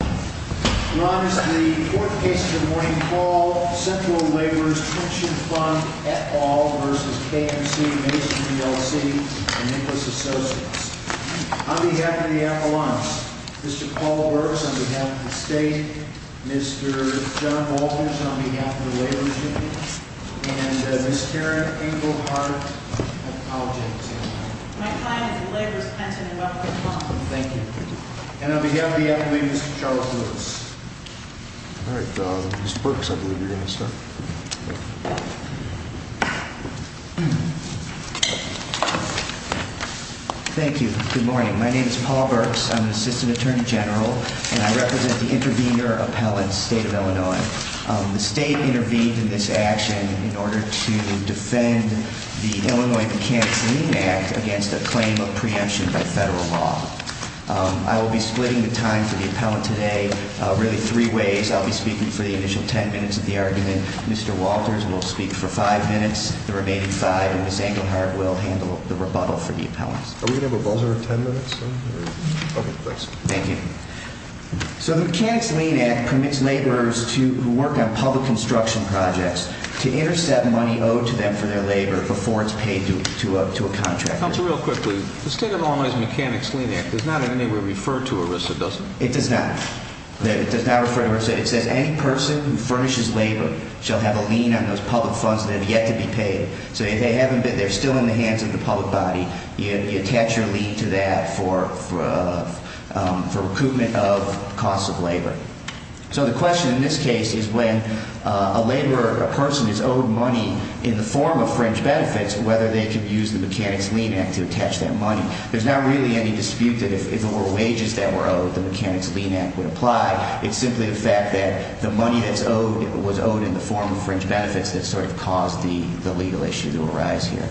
Ron is the fourth case this morning. Paul, Central Laborers' Pension Fund, et al. v. KMC Masonry, LLC, and Nicholas Associates. On behalf of the appellants, Mr. Paul Burks, on behalf of the state, Mr. John Baldrige, on behalf of the laborers' union, and Ms. Karen Engelhardt, I apologize. My client is the Laborers' Pension Fund. Thank you. And on behalf of the appellants, Mr. Charles Lewis. All right. Mr. Burks, I believe you're going to start. Thank you. Good morning. My name is Paul Burks. I'm an assistant attorney general, and I represent the intervener appellant, state of Illinois. The state intervened in this action in order to defend the Illinois Mechanics of the Union Act against a claim of preemption by federal law. I will be splitting the time for the appellant today really three ways. I'll be speaking for the initial ten minutes of the argument. Mr. Walters will speak for five minutes. The remaining five, and Ms. Engelhardt will handle the rebuttal for the appellants. Are we going to have a buzzer in ten minutes? Okay. Thanks. Thank you. So the Mechanics' Lien Act permits laborers who work on public construction projects to intercept money owed to them for their labor before it's paid to a contractor. Counselor, real quickly, the state of Illinois Mechanics' Lien Act does not in any way refer to ERISA, does it? It does not. It does not refer to ERISA. It says any person who furnishes labor shall have a lien on those public funds that have yet to be paid. So if they haven't been, they're still in the hands of the public body, you attach your lien to that for recoupment of costs of labor. So the question in this case is when a laborer, a person is owed money in the form of fringe benefits, whether they could use the Mechanics' Lien Act to attach that money. There's not really any dispute that if there were wages that were owed, the Mechanics' Lien Act would apply. It's simply the fact that the money that's owed was owed in the form of fringe benefits that sort of caused the legal issue to arise here.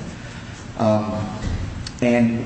And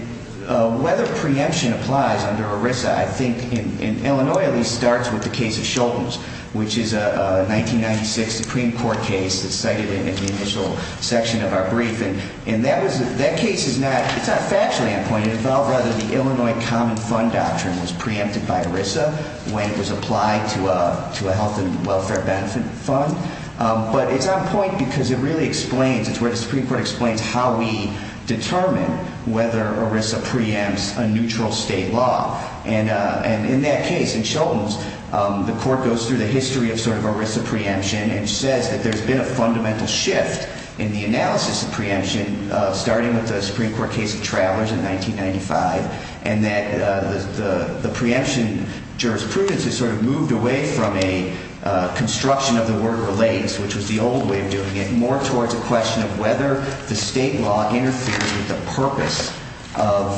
whether preemption applies under ERISA, I think in Illinois at least, starts with the case of Shultz, which is a 1996 Supreme Court case that's cited in the initial section of our brief. And that case is not factually on point. It involved rather the Illinois Common Fund Doctrine was preempted by ERISA when it was applied to a health and welfare benefit fund. But it's on point because it really explains, it's where the Supreme Court explains how we determine whether ERISA preempts a neutral state law. And in that case, in Shultz, the court goes through the history of sort of ERISA preemption and says that there's been a fundamental shift in the analysis of preemption starting with the Supreme Court case of Travelers in 1995, and that the preemption jurisprudence has sort of moved away from a construction of the word relays, which was the old way of doing it, more towards a question of whether the state law interferes with the purpose of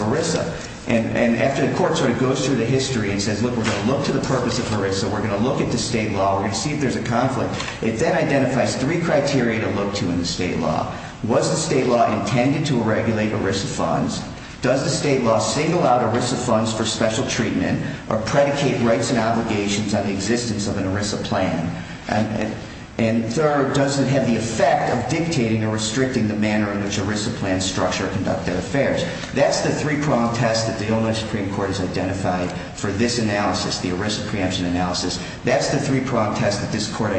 ERISA. And after the court sort of goes through the history and says, look, we're going to look to the purpose of ERISA, we're going to look at the state law, we're going to see if there's a conflict, it then identifies three criteria to look to in the state law. Was the state law intended to regulate ERISA funds? Does the state law single out ERISA funds for special treatment or predicate rights and obligations on the existence of an ERISA plan? And third, does it have the effect of dictating or restricting the manner in which ERISA plans structure or conduct their affairs? That's the three-prong test that the Illinois Supreme Court has identified for this analysis, the ERISA preemption analysis. That's the three-prong test that this court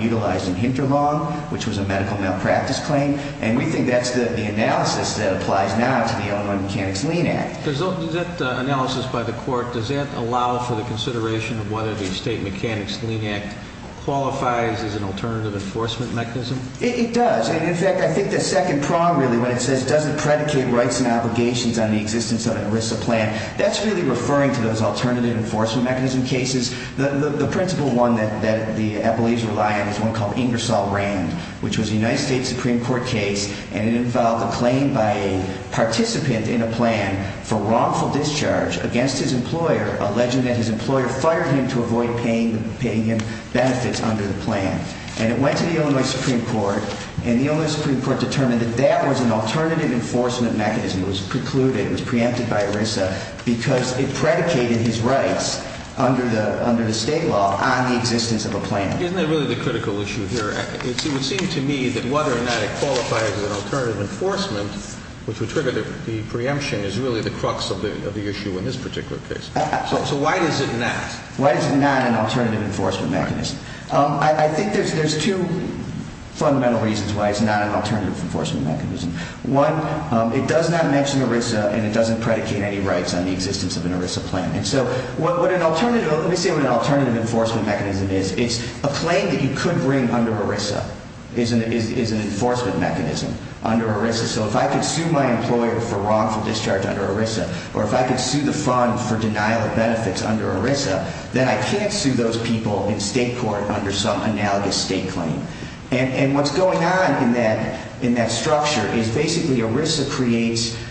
utilized in Hinterlong, which was a medical malpractice claim, and we think that's the analysis that applies now to the Illinois Mechanics-Lean Act. In that analysis by the court, does that allow for the consideration of whether the State Mechanics-Lean Act qualifies as an alternative enforcement mechanism? It does. And, in fact, I think the second prong, really, when it says, does it predicate rights and obligations on the existence of an ERISA plan, that's really referring to those alternative enforcement mechanism cases. The principal one that the appellees rely on is one called Ingersoll-Rand, which was a United States Supreme Court case, and it involved a claim by a participant in a plan for wrongful discharge against his employer, alleging that his employer fired him to avoid paying him benefits under the plan. And it went to the Illinois Supreme Court, and the Illinois Supreme Court determined that that was an alternative enforcement mechanism. It was precluded. It was preempted by ERISA because it predicated his rights under the State law on the existence of a plan. Isn't that really the critical issue here? It would seem to me that whether or not it qualifies as an alternative enforcement, which would trigger the preemption, is really the crux of the issue in this particular case. So why is it not? Why is it not an alternative enforcement mechanism? I think there's two fundamental reasons why it's not an alternative enforcement mechanism. One, it does not mention ERISA, and it doesn't predicate any rights on the existence of an ERISA plan. And so what an alternative – let me say what an alternative enforcement mechanism is. It's a claim that you could bring under ERISA is an enforcement mechanism under ERISA. So if I could sue my employer for wrongful discharge under ERISA, or if I could sue the fund for denial of benefits under ERISA, then I can't sue those people in state court under some analogous state claim. And what's going on in that structure is basically ERISA creates –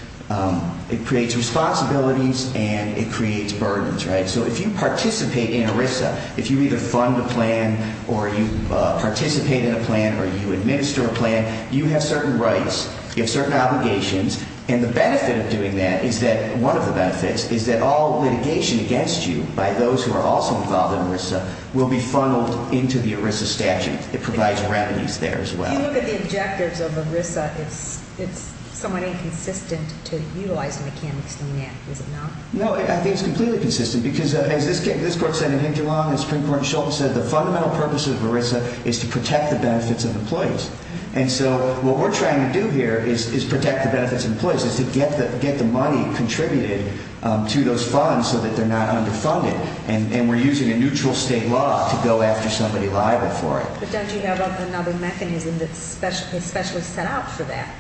it creates responsibilities and it creates burdens, right? So if you participate in ERISA, if you either fund a plan or you participate in a plan or you administer a plan, you have certain rights, you have certain obligations, and the benefit of doing that is that – one of the benefits is that all litigation against you by those who are also involved in ERISA will be funneled into the ERISA statute. It provides revenues there as well. If you look at the objectives of ERISA, it's somewhat inconsistent to utilize mechanics in that, is it not? No, I think it's completely consistent because as this court said in Hinterlong and Supreme Court in Shultz said, the fundamental purpose of ERISA is to protect the benefits of employees. And so what we're trying to do here is protect the benefits of employees, is to get the money contributed to those funds so that they're not underfunded. And we're using a neutral state law to go after somebody liable for it. But don't you have another mechanism that's specially set out for that?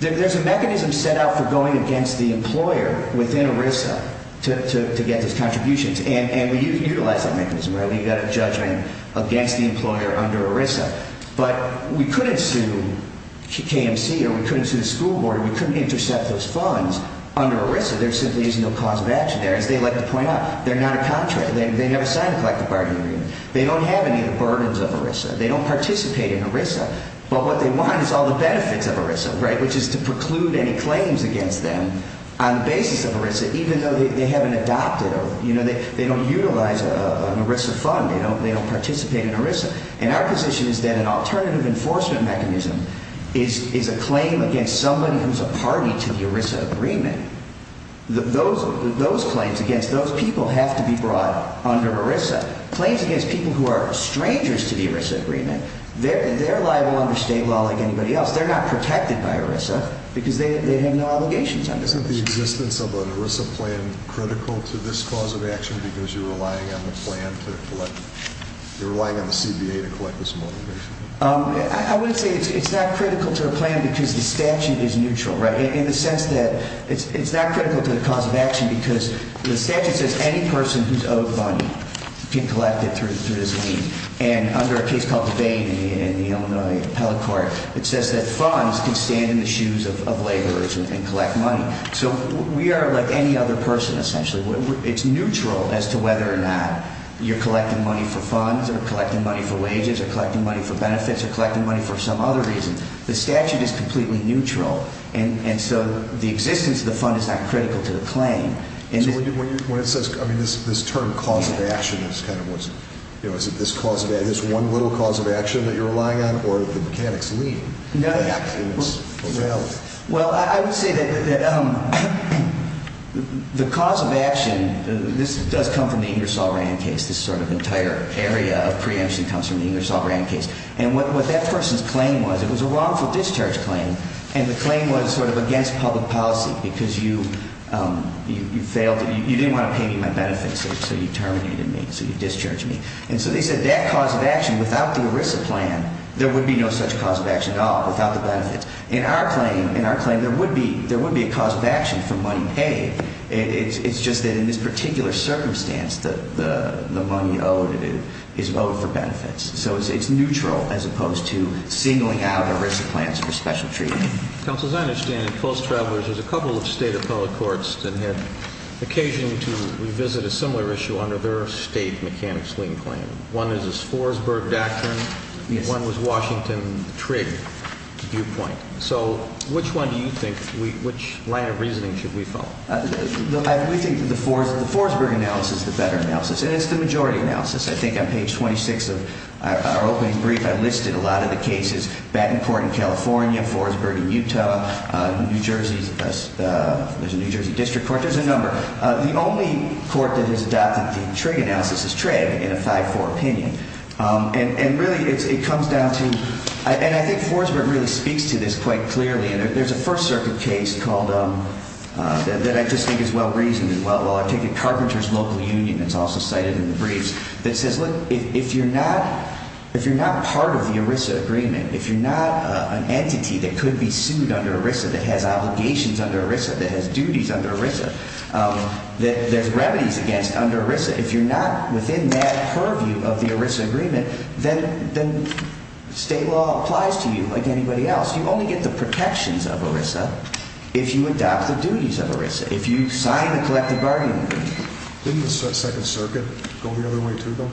There's a mechanism set out for going against the employer within ERISA to get those contributions. And we utilize that mechanism, right? We've got a judgment against the employer under ERISA. But we couldn't sue KMC or we couldn't sue the school board or we couldn't intercept those funds under ERISA. There simply is no cause of action there. And as they like to point out, they're not a contract. They never signed a collective bargaining agreement. They don't have any of the burdens of ERISA. They don't participate in ERISA. But what they want is all the benefits of ERISA, right, which is to preclude any claims against them on the basis of ERISA, even though they haven't adopted or, you know, they don't utilize an ERISA fund. They don't participate in ERISA. And our position is that an alternative enforcement mechanism is a claim against somebody who's a party to the ERISA agreement. Those claims against those people have to be brought under ERISA. Claims against people who are strangers to the ERISA agreement, they're liable under state law like anybody else. They're not protected by ERISA because they have no obligations under ERISA. Isn't the existence of an ERISA plan critical to this cause of action because you're relying on the plan to collect? You're relying on the CBA to collect this motivation? I would say it's not critical to a plan because the statute is neutral, right, in the sense that it's not critical to the cause of action because the statute says any person who's owed money can collect it through this lien. And under a case called the Bain in the Illinois Appellate Court, it says that funds can stand in the shoes of laborers and collect money. So we are like any other person, essentially. It's neutral as to whether or not you're collecting money for funds or collecting money for wages or collecting money for benefits or collecting money for some other reason. The statute is completely neutral. And so the existence of the fund is not critical to the claim. So when it says, I mean, this term cause of action is kind of what's, you know, is it this cause of action, this one little cause of action that you're relying on or the mechanics lien? Well, I would say that the cause of action, this does come from the Ingersoll-Rand case. This sort of entire area of preemption comes from the Ingersoll-Rand case. And what that person's claim was, it was a wrongful discharge claim. And the claim was sort of against public policy because you failed, you didn't want to pay me my benefits, so you terminated me, so you discharged me. And so they said that cause of action without the ERISA plan, there would be no such cause of action at all without the benefits. In our claim, there would be a cause of action for money paid. It's just that in this particular circumstance, the money owed is owed for benefits. So it's neutral as opposed to singling out ERISA plans for special treatment. Counsel, as I understand it, post-travelers, there's a couple of state appellate courts that had occasion to revisit a similar issue under their state mechanics lien claim. One is this Forsberg doctrine. One was Washington TRIG viewpoint. So which one do you think, which line of reasoning should we follow? We think the Forsberg analysis is the better analysis. And it's the majority analysis. I think on page 26 of our opening brief, I listed a lot of the cases, Battenport in California, Forsberg in Utah, New Jersey's, there's a New Jersey district court, there's a number. The only court that has adopted the TRIG analysis is TRIG in a 5-4 opinion. And really, it comes down to, and I think Forsberg really speaks to this quite clearly. And there's a First Circuit case called, that I just think is well-reasoned, well, I'll take it, Carpenter's Local Union, that's also cited in the briefs, that says, look, if you're not part of the ERISA agreement, if you're not an entity that could be sued under ERISA, that has obligations under ERISA, that has duties under ERISA, that there's remedies against under ERISA, if you're not within that purview of the ERISA agreement, then state law applies to you like anybody else. You only get the protections of ERISA if you adopt the duties of ERISA, if you sign the collective bargaining agreement. Didn't the Second Circuit go the other way, too, though?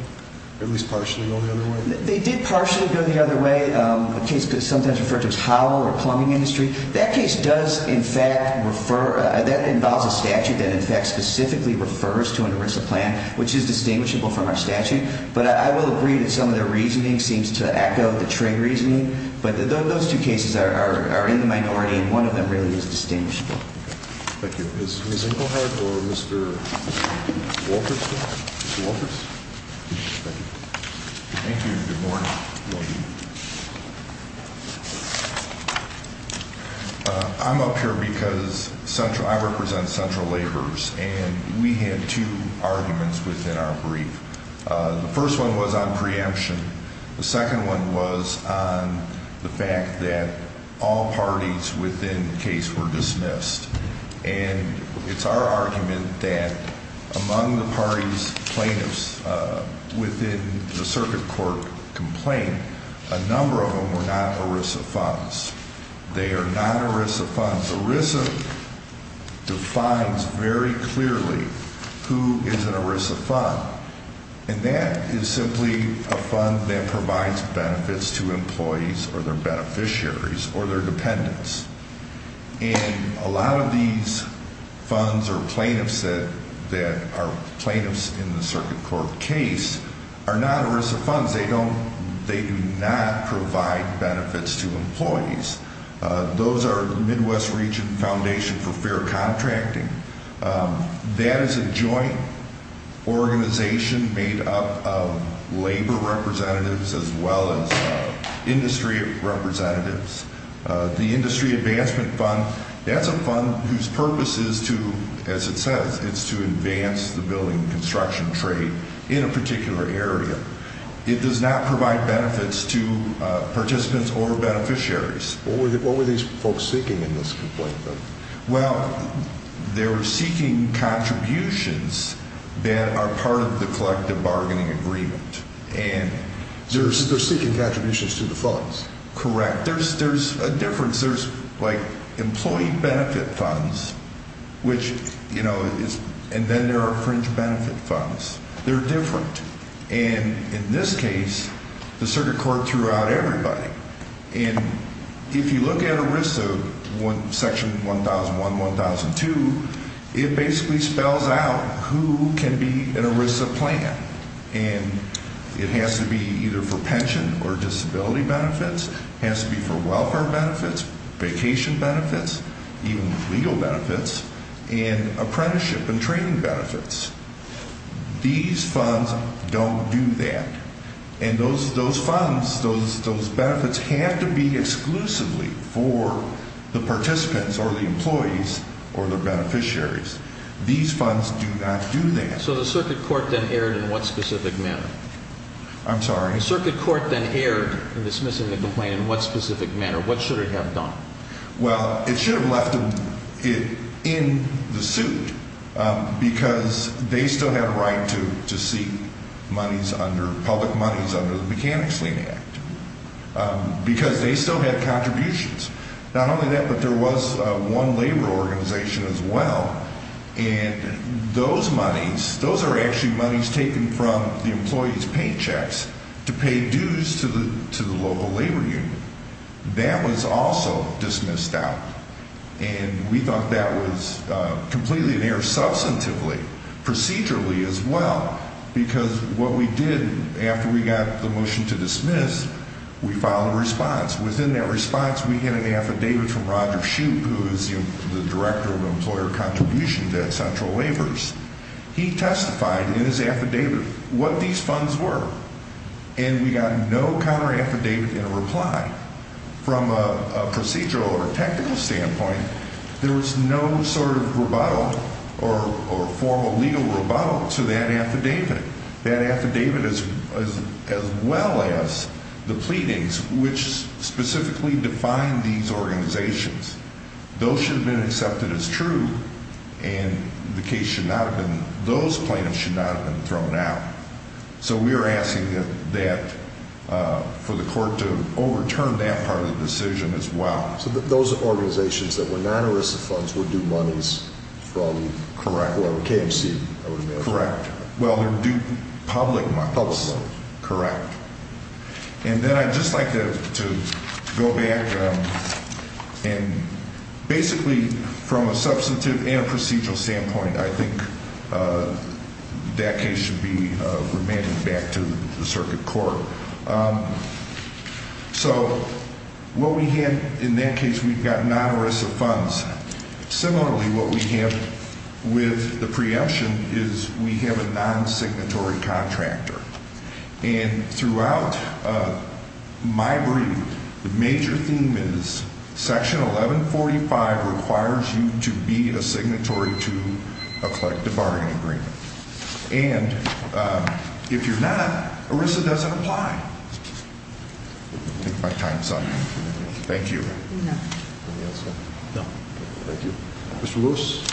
At least partially go the other way? They did partially go the other way. A case that's sometimes referred to as hollow or plumbing industry, that case does, in fact, refer, that involves a statute that, in fact, specifically refers to an ERISA plan, which is distinguishable from our statute. But I will agree that some of the reasoning seems to echo the trade reasoning. But those two cases are in the minority, and one of them really is distinguishable. Thank you. Is Ms. Engelhardt or Mr. Walters here? Mr. Walters? Thank you. Thank you. Good morning. Good morning. I'm up here because I represent Central Labors, and we had two arguments within our brief. The first one was on preemption. The second one was on the fact that all parties within the case were dismissed. And it's our argument that among the parties plaintiffs within the circuit court complaint, a number of them were not ERISA funds. They are not ERISA funds. ERISA defines very clearly who is an ERISA fund, and that is simply a fund that provides benefits to employees or their beneficiaries or their dependents. And a lot of these funds or plaintiffs that are plaintiffs in the circuit court case are not ERISA funds. They do not provide benefits to employees. Those are Midwest Region Foundation for Fair Contracting. That is a joint organization made up of labor representatives as well as industry representatives. The Industry Advancement Fund, that's a fund whose purpose is to, as it says, is to advance the building and construction trade in a particular area. It does not provide benefits to participants or beneficiaries. What were these folks seeking in this complaint, though? Well, they were seeking contributions that are part of the collective bargaining agreement. They're seeking contributions to the funds? Correct. There's a difference. There's, like, employee benefit funds, which, you know, and then there are fringe benefit funds. They're different. And in this case, the circuit court threw out everybody. And if you look at ERISA Section 1001, 1002, it basically spells out who can be an ERISA plan. And it has to be either for pension or disability benefits. It has to be for welfare benefits, vacation benefits, even legal benefits, and apprenticeship and training benefits. These funds don't do that. And those funds, those benefits have to be exclusively for the participants or the employees or the beneficiaries. These funds do not do that. So the circuit court then erred in what specific manner? I'm sorry? The circuit court then erred in dismissing the complaint in what specific manner? What should it have done? Well, it should have left it in the suit because they still had a right to seek monies under, public monies under the Mechanic's Lien Act because they still had contributions. Not only that, but there was one labor organization as well. And those monies, those are actually monies taken from the employees' paychecks to pay dues to the local labor union. That was also dismissed out. And we thought that was completely in error substantively, procedurally as well, because what we did after we got the motion to dismiss, we filed a response. Within that response, we get an affidavit from Roger Shoup, who is the Director of Employer Contributions at Central Waivers. He testified in his affidavit what these funds were. And we got no counter affidavit in reply. From a procedural or technical standpoint, there was no sort of rebuttal or formal legal rebuttal to that affidavit. That affidavit, as well as the pleadings, which specifically defined these organizations, those should have been accepted as true, and the case should not have been, those claims should not have been thrown out. So we are asking that, for the court to overturn that part of the decision as well. So those organizations that were non-ERISA funds were due monies from KMC? Correct. Well, they're due public monies. Correct. And then I'd just like to go back and basically, from a substantive and procedural standpoint, I think that case should be remanded back to the circuit court. So what we have in that case, we've got non-ERISA funds. Similarly, what we have with the preemption is we have a non-signatory contractor. And throughout my brief, the major theme is Section 1145 requires you to be a signatory to a collective bargaining agreement. And if you're not, ERISA doesn't apply. Take my time, son. Thank you. Anything else, sir? No. Thank you. Mr. Lewis.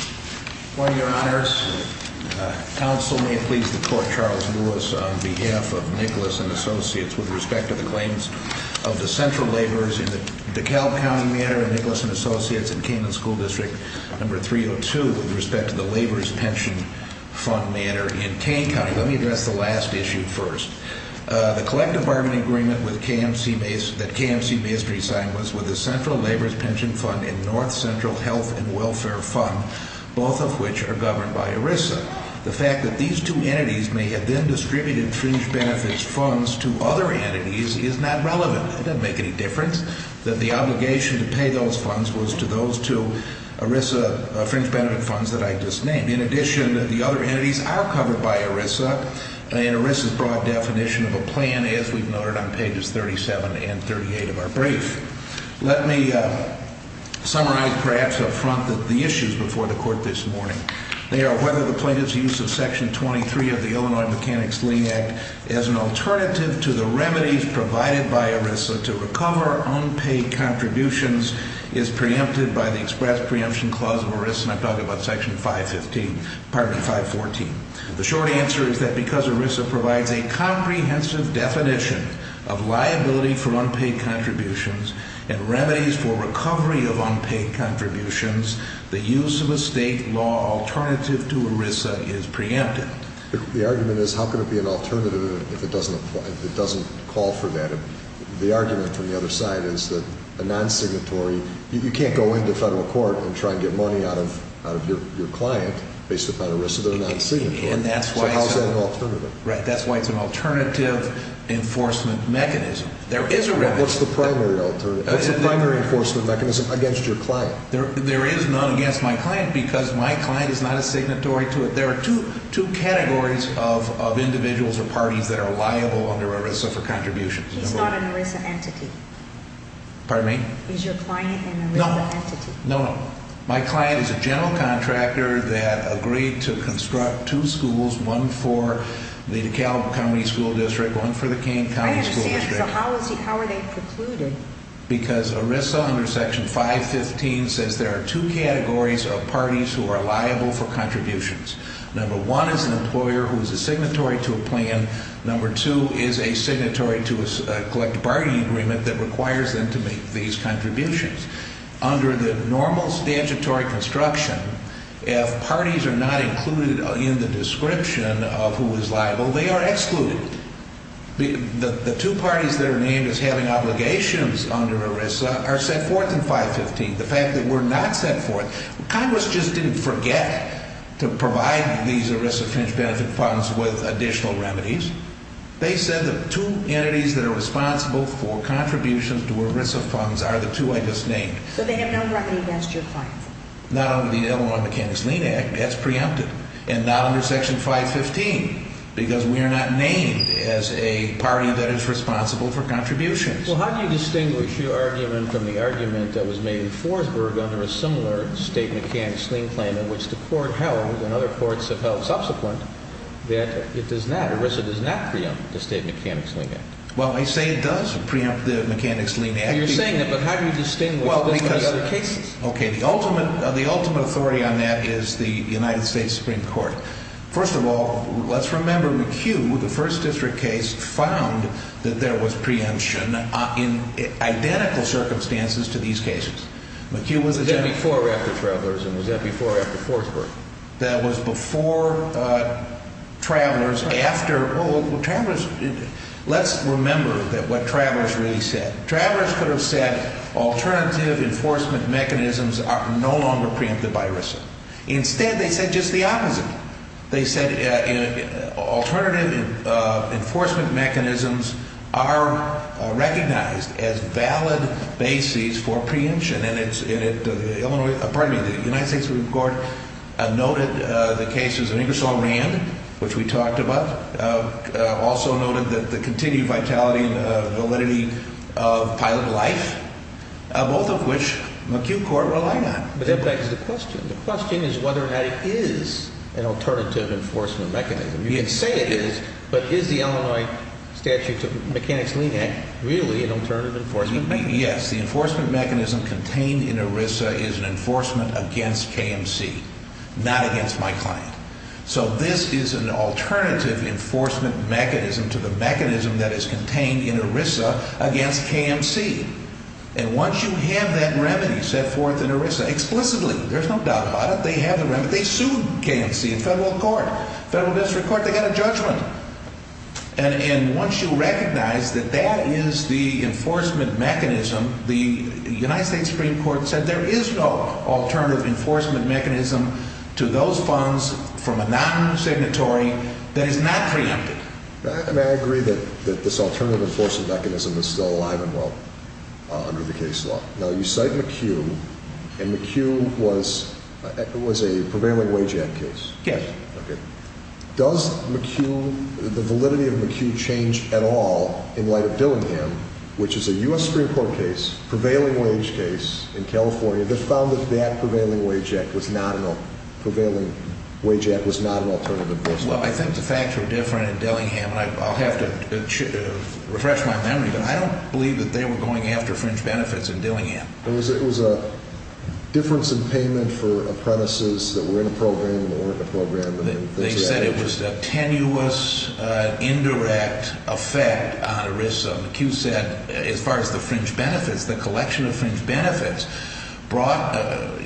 Good morning, Your Honors. Counsel may please the court, Charles Lewis, on behalf of Nicholas and Associates, with respect to the claims of the central laborers in the DeKalb County matter, and Nicholas and Associates in Canaan School District No. 302, with respect to the Laborers' Pension Fund matter in Canaan County. Let me address the last issue first. The collective bargaining agreement that KMC-Masonry signed was with the Central Laborers' Pension Fund and North Central Health and Welfare Fund, both of which are governed by ERISA. The fact that these two entities may have then distributed fringe benefits funds to other entities is not relevant. It doesn't make any difference that the obligation to pay those funds was to those two ERISA fringe benefit funds that I just named. In addition, the other entities are covered by ERISA, and ERISA's broad definition of a plan, as we've noted on pages 37 and 38 of our brief. Let me summarize perhaps up front the issues before the court this morning. They are whether the plaintiff's use of Section 23 of the Illinois Mechanics-Lean Act as an alternative to the remedies provided by ERISA to recover unpaid contributions is preempted by the express preemption clause of ERISA, and I'm talking about Section 514. The short answer is that because ERISA provides a comprehensive definition of liability for unpaid contributions and remedies for recovery of unpaid contributions, the use of a state law alternative to ERISA is preempted. The argument is how could it be an alternative if it doesn't call for that? The argument from the other side is that a non-signatory, you can't go into federal court and try to get money out of your client based upon ERISA that are non-signatory, so how is that an alternative? Right, that's why it's an alternative enforcement mechanism. What's the primary enforcement mechanism against your client? There is none against my client because my client is not a signatory to it. There are two categories of individuals or parties that are liable under ERISA for contributions. He's not an ERISA entity. Pardon me? He's your client and an ERISA entity. No, my client is a general contractor that agreed to construct two schools, one for the DeKalb County School District, one for the Kane County School District. I understand, so how are they precluded? Because ERISA under Section 515 says there are two categories of parties who are liable for contributions. Number one is an employer who is a signatory to a plan. Number two is a signatory to a collective bargaining agreement that requires them to make these contributions. Under the normal statutory construction, if parties are not included in the description of who is liable, they are excluded. The two parties that are named as having obligations under ERISA are set forth in 515. The fact that we're not set forth, Congress just didn't forget to provide these ERISA fringe benefit funds with additional remedies. They said the two entities that are responsible for contributions to ERISA funds are the two I just named. So they have not recognized your client? Not under the Illinois Mechanics Lien Act. That's preempted. And not under Section 515 because we are not named as a party that is responsible for contributions. Well, how do you distinguish your argument from the argument that was made in Forsberg under a similar state mechanics lien claim in which the court held and other courts have held subsequent that it does not, ERISA does not preempt the State Mechanics Lien Act? Well, I say it does preempt the Mechanics Lien Act. You're saying that, but how do you distinguish this from the other cases? Okay, the ultimate authority on that is the United States Supreme Court. First of all, let's remember McHugh, the first district case, found that there was preemption in identical circumstances to these cases. McHugh was a gentleman. That was before or after Travelers, and was that before or after Forsberg? That was before Travelers, after. Travelers, let's remember what Travelers really said. Travelers could have said alternative enforcement mechanisms are no longer preempted by ERISA. Instead, they said just the opposite. They said alternative enforcement mechanisms are recognized as valid bases for preemption, and the United States Supreme Court noted the cases of Ingersoll Rand, which we talked about, also noted the continued vitality and validity of pilot life, both of which McHugh Court relied on. But that begs the question. The question is whether or not it is an alternative enforcement mechanism. You can say it is, but is the Illinois Statute to Mechanics Lien Act really an alternative enforcement mechanism? The answer would be yes. The enforcement mechanism contained in ERISA is an enforcement against KMC, not against my client. So this is an alternative enforcement mechanism to the mechanism that is contained in ERISA against KMC. And once you have that remedy set forth in ERISA, explicitly, there's no doubt about it, they have the remedy. They sued KMC in federal court, federal district court. They got a judgment. And once you recognize that that is the enforcement mechanism, the United States Supreme Court said there is no alternative enforcement mechanism to those funds from a non-signatory that is not preempted. And I agree that this alternative enforcement mechanism is still alive and well under the case law. Now, you cite McHugh, and McHugh was a prevailing wage act case. Yes. Okay. Does McHugh, the validity of McHugh change at all in light of Dillingham, which is a U.S. Supreme Court case, prevailing wage case in California, that found that that prevailing wage act was not an alternative enforcement mechanism? Well, I think the facts are different in Dillingham, and I'll have to refresh my memory, but I don't believe that they were going after fringe benefits in Dillingham. It was a difference in payment for apprentices that were in a program or weren't in a program. They said it was a tenuous, indirect effect on ERISA. McHugh said as far as the fringe benefits, the collection of fringe benefits brought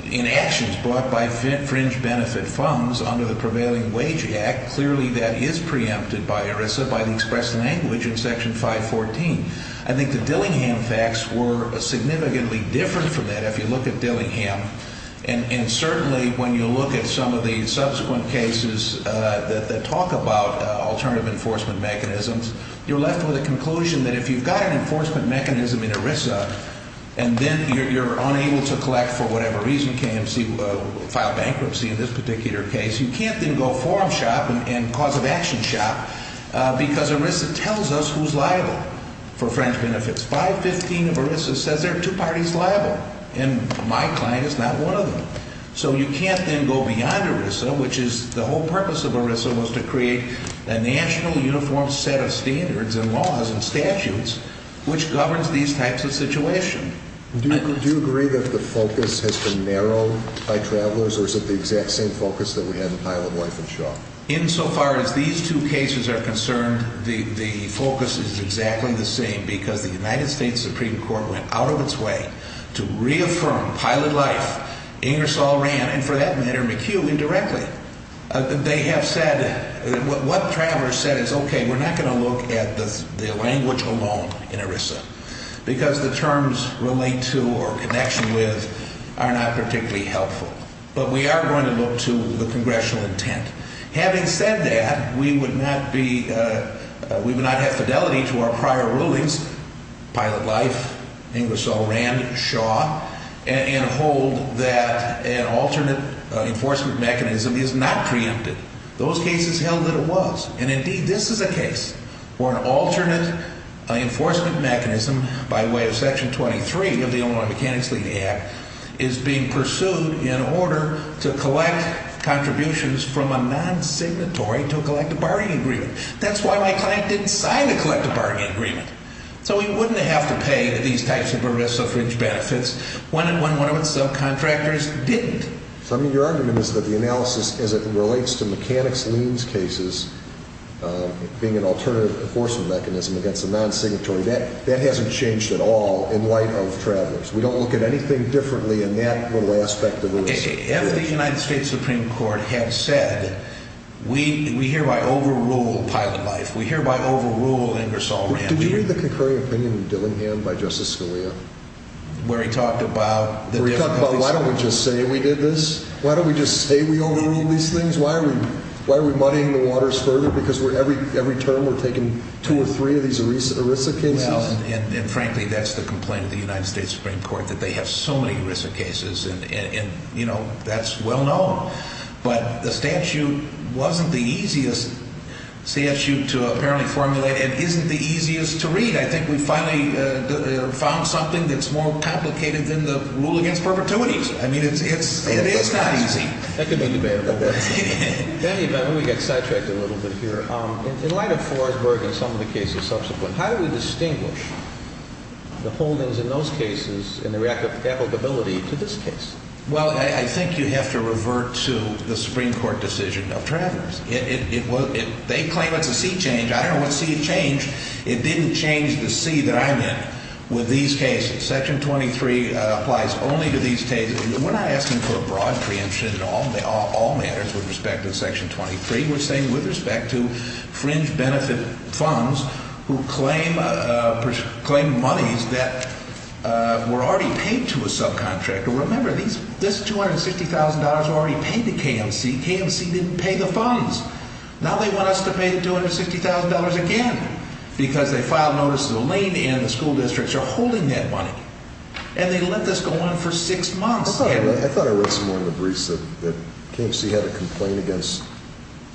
in actions, brought by fringe benefit funds under the prevailing wage act, clearly that is preempted by ERISA by the expressed language in Section 514. I think the Dillingham facts were significantly different from that if you look at Dillingham, and certainly when you look at some of the subsequent cases that talk about alternative enforcement mechanisms, you're left with a conclusion that if you've got an enforcement mechanism in ERISA and then you're unable to collect for whatever reason, KMC filed bankruptcy in this particular case, you can't then go form shop and cause of action shop because ERISA tells us who's liable for fringe benefits. 515 of ERISA says there are two parties liable, and my client is not one of them. So you can't then go beyond ERISA, which is the whole purpose of ERISA was to create a national uniform set of standards and laws and statutes which governs these types of situations. Do you agree that the focus has been narrowed by travelers, or is it the exact same focus that we had in pilot life in Shaw? Insofar as these two cases are concerned, the focus is exactly the same because the United States Supreme Court went out of its way to reaffirm pilot life. Ingersoll ran, and for that matter McHugh indirectly. They have said, what travelers said is okay, we're not going to look at the language alone in ERISA because the terms relate to or connection with are not particularly helpful. But we are going to look to the congressional intent. Having said that, we would not have fidelity to our prior rulings, pilot life, Ingersoll ran, Shaw, and hold that an alternate enforcement mechanism is not preempted. Those cases held that it was, and indeed this is a case where an alternate enforcement mechanism by way of section 23 of the Illinois Mechanics Levy Act is being pursued in order to collect contributions from a non-signatory to collect a bargaining agreement. That's why my client didn't sign the collective bargaining agreement. So we wouldn't have to pay these types of ERISA fringe benefits when one of its subcontractors didn't. So I mean your argument is that the analysis as it relates to mechanics liens cases being an alternative enforcement mechanism against a non-signatory, that hasn't changed at all in light of travelers. We don't look at anything differently in that little aspect of ERISA. If the United States Supreme Court had said, we hereby overrule pilot life, we hereby overrule Ingersoll ran. Did we read the concurring opinion of Dillingham by Justice Scalia? Where he talked about... Where he talked about why don't we just say we did this? Why don't we just say we overruled these things? Why are we muddying the waters further because every term we're taking two or three of these ERISA cases? Well, and frankly that's the complaint of the United States Supreme Court that they have so many ERISA cases and, you know, that's well known. But the statute wasn't the easiest statute to apparently formulate and isn't the easiest to read. I think we finally found something that's more complicated than the rule against perpetuities. I mean, it's not easy. That could be debatable. Let me get sidetracked a little bit here. In light of Forsberg and some of the cases subsequent, how do we distinguish the holdings in those cases and the applicability to this case? Well, I think you have to revert to the Supreme Court decision of travelers. They claim it's a seat change. I don't know what seat change. It didn't change the seat that I'm in with these cases. Section 23 applies only to these cases. We're not asking for a broad preemption in all matters with respect to Section 23. We're saying with respect to fringe benefit funds who claim monies that were already paid to a subcontractor. Remember, this $260,000 was already paid to KMC. KMC didn't pay the funds. Now they want us to pay the $260,000 again because they filed notices. Elaine and the school districts are holding that money, and they let this go on for six months. I thought I read somewhere in the briefs that KMC had a complaint against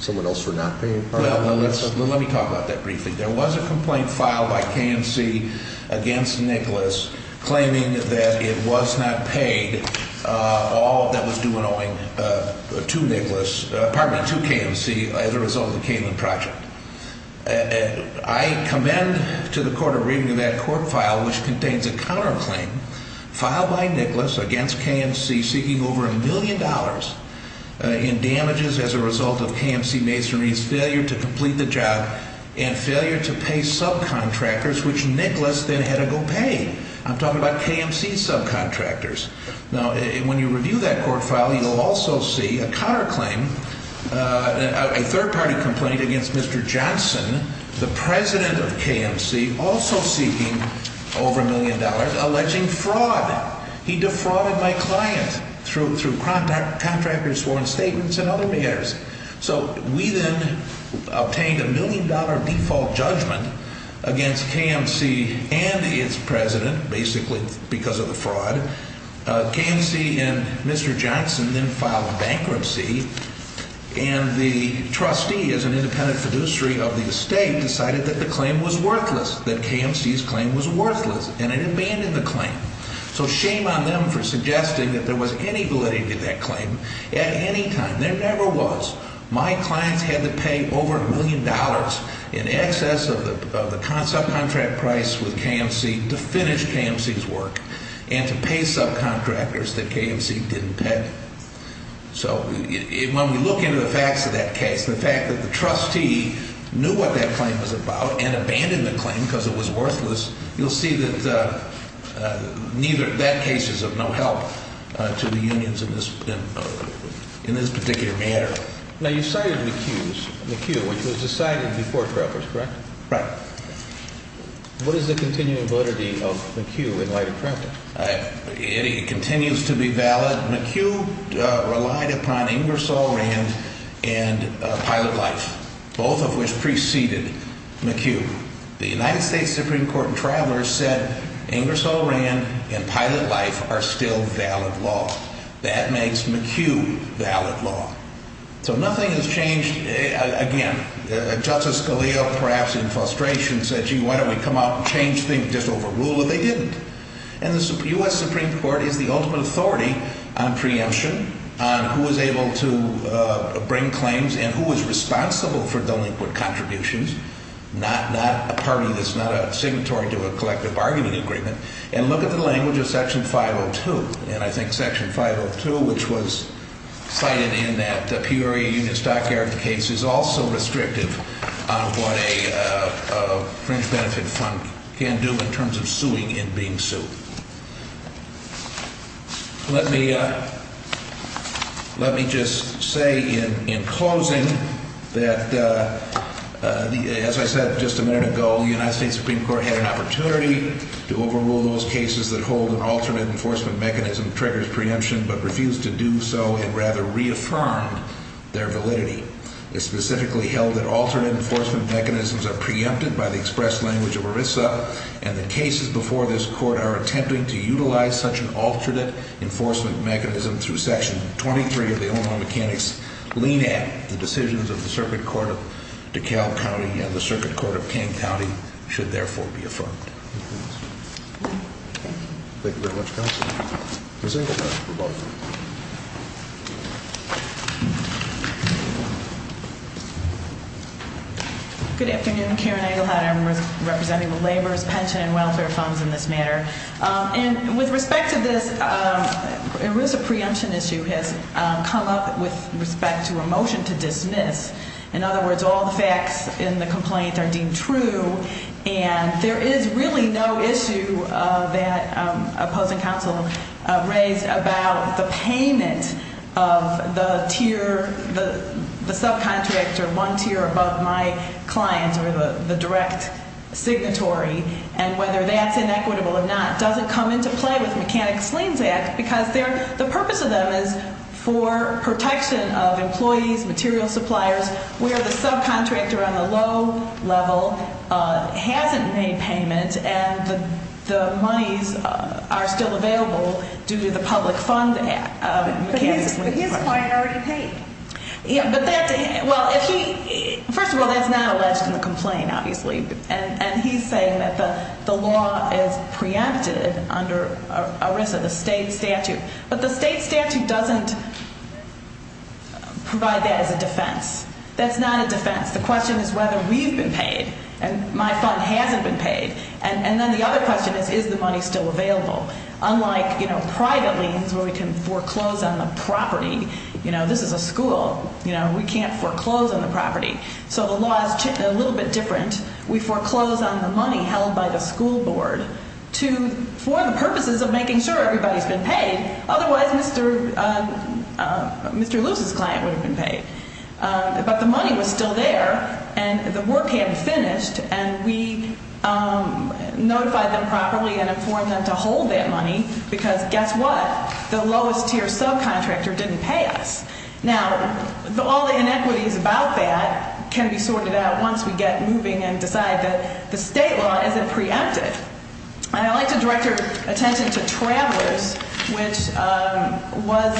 someone else for not paying. Well, let me talk about that briefly. There was a complaint filed by KMC against Nicholas claiming that it was not paid. All of that was due and owing to Nicholas, pardon me, to KMC as a result of the Cayman Project. I commend to the court a reading of that court file, which contains a counterclaim filed by Nicholas against KMC seeking over a million dollars in damages as a result of KMC masonry's failure to complete the job and failure to pay subcontractors, which Nicholas then had to go pay. I'm talking about KMC subcontractors. Now, when you review that court file, you'll also see a counterclaim, a third-party complaint against Mr. Johnson, the president of KMC, also seeking over a million dollars, alleging fraud. He defrauded my client through contractors' sworn statements and other matters. So we then obtained a million-dollar default judgment against KMC and its president, basically because of the fraud. KMC and Mr. Johnson then filed bankruptcy, and the trustee as an independent fiduciary of the estate decided that the claim was worthless, that KMC's claim was worthless, and it abandoned the claim. So shame on them for suggesting that there was any validity to that claim at any time. There never was. My clients had to pay over a million dollars in excess of the subcontract price with KMC to finish KMC's work and to pay subcontractors that KMC didn't pay. So when we look into the facts of that case, the fact that the trustee knew what that claim was about and abandoned the claim because it was worthless, you'll see that neither – that case is of no help to the unions in this particular matter. Now, you cited McHugh's – McHugh, which was decided before Travers, correct? Right. What is the continuing validity of McHugh in light of Travers? It continues to be valid. McHugh relied upon Ingersoll Rand and Pilot Life, both of which preceded McHugh. The United States Supreme Court in Travers said Ingersoll Rand and Pilot Life are still valid law. That makes McHugh valid law. So nothing has changed. Again, Justice Scalia, perhaps in frustration, said, gee, why don't we come out and change things, just overrule it? They didn't. And the U.S. Supreme Court is the ultimate authority on preemption, on who is able to bring claims and who is responsible for delinquent contributions, not a party that's not a signatory to a collective bargaining agreement. And look at the language of Section 502. And I think Section 502, which was cited in that Peoria Union Stockyard case, is also restrictive on what a fringe benefit fund can do in terms of suing and being sued. Let me just say in closing that, as I said just a minute ago, the United States Supreme Court had an opportunity to overrule those cases that hold an alternate enforcement mechanism triggers preemption but refused to do so and rather reaffirmed their validity. It specifically held that alternate enforcement mechanisms are preempted by the express language of ERISA and the cases before this Court are attempting to utilize such an alternate enforcement mechanism through Section 23 of the Illinois Mechanics Lean Act. The decisions of the Circuit Court of DeKalb County and the Circuit Court of King County should therefore be affirmed. Thank you very much, Counsel. Ms. Ingersoll, for both. Good afternoon. Karen Egelhardt. I'm representing the Labor, Pension, and Welfare funds in this matter. And with respect to this ERISA preemption issue has come up with respect to a motion to dismiss. In other words, all the facts in the complaint are deemed true and there is really no issue that opposing counsel raised about the payment of the tier, the subcontractor, one tier above my client or the direct signatory. And whether that's inequitable or not doesn't come into play with Mechanics Lean Act because the purpose of them is for protection of employees, material suppliers, where the subcontractor on the low level hasn't made payment and the monies are still available due to the Public Fund Act. But his client already paid. First of all, that's not alleged in the complaint, obviously. And he's saying that the law is preempted under ERISA, the state statute. But the state statute doesn't provide that as a defense. That's not a defense. The question is whether we've been paid and my fund hasn't been paid. And then the other question is, is the money still available? Unlike private liens where we can foreclose on the property, this is a school. We can't foreclose on the property. So the law is a little bit different. We foreclose on the money held by the school board for the purposes of making sure everybody's been paid. Otherwise, Mr. Lewis's client would have been paid. But the money was still there and the work hadn't finished. And we notified them properly and informed them to hold that money because guess what? The lowest tier subcontractor didn't pay us. Now, all the inequities about that can be sorted out once we get moving and decide that the state law isn't preempted. And I'd like to direct your attention to Travelers, which was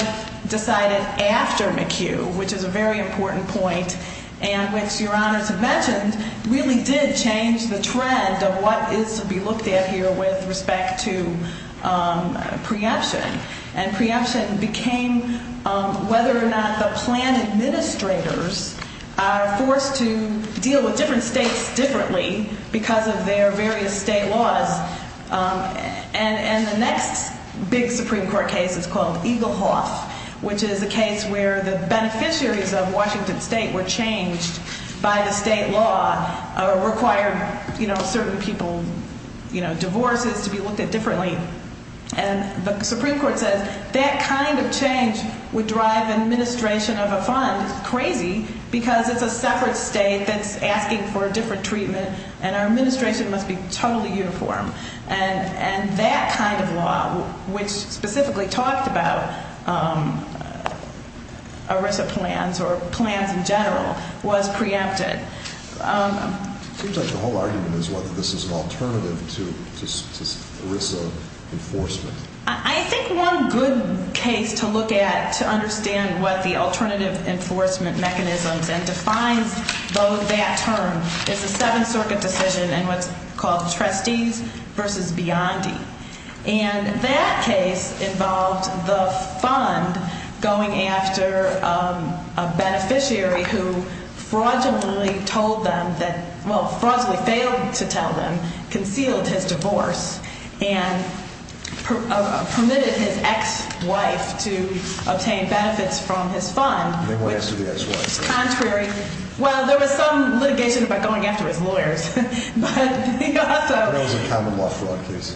decided after McHugh, which is a very important point, and which Your Honors have mentioned really did change the trend of what is to be looked at here with respect to preemption. And preemption became whether or not the plan administrators are forced to deal with different states differently because of their various state laws. And the next big Supreme Court case is called Eagle Hoth, which is a case where the beneficiaries of Washington State were changed by the state law or required, you know, certain people, you know, divorces to be looked at differently. And the Supreme Court says that kind of change would drive administration of a fund crazy because it's a separate state that's asking for a different treatment and our administration must be totally uniform. And that kind of law, which specifically talked about ERISA plans or plans in general, was preempted. It seems like the whole argument is whether this is an alternative to ERISA enforcement. I think one good case to look at to understand what the alternative enforcement mechanisms and defines both that term is the Seventh Circuit decision in what's called Trustees v. Biondi. And that case involved the fund going after a beneficiary who fraudulently told them that, well, fraudulently failed to tell them, concealed his divorce, and permitted his ex-wife to obtain benefits from his fund. They went after the ex-wife. Contrary. Well, there was some litigation about going after his lawyers. But there was a common law fraud case.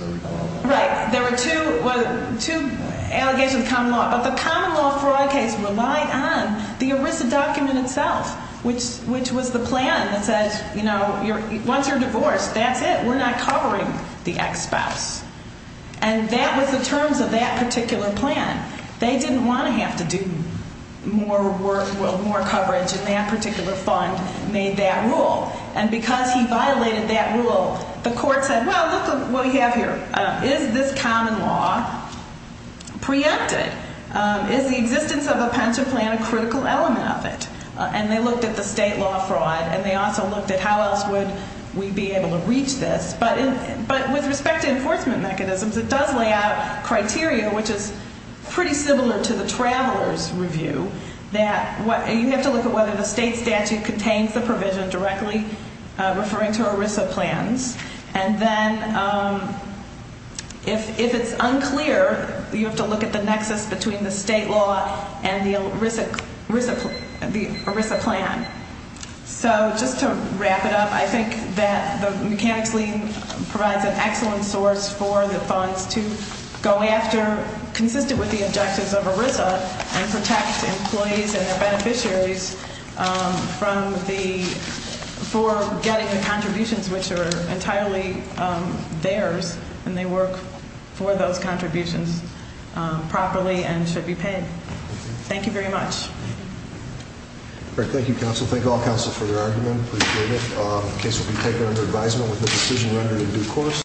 Right. There were two allegations of common law, but the common law fraud case relied on the ERISA document itself, which was the plan that says, you know, once you're divorced, that's it. We're not covering the ex-spouse. And that was the terms of that particular plan. They didn't want to have to do more work, more coverage, and that particular fund made that rule. And because he violated that rule, the court said, well, look at what we have here. Is this common law preempted? Is the existence of a pension plan a critical element of it? And they looked at the state law fraud, and they also looked at how else would we be able to reach this. But with respect to enforcement mechanisms, it does lay out criteria, which is pretty similar to the Traveler's Review, that you have to look at whether the state statute contains the provision directly referring to ERISA plans. And then if it's unclear, you have to look at the nexus between the state law and the ERISA plan. So just to wrap it up, I think that the mechanics lien provides an excellent source for the funds to go after, consistent with the objectives of ERISA, and protect employees and their beneficiaries from the ‑‑ entirely theirs when they work for those contributions properly and should be paid. Thank you very much. Thank you, counsel. Thank all counsel for their argument. Appreciate it. The case will be taken under advisement with the decision rendered in due course.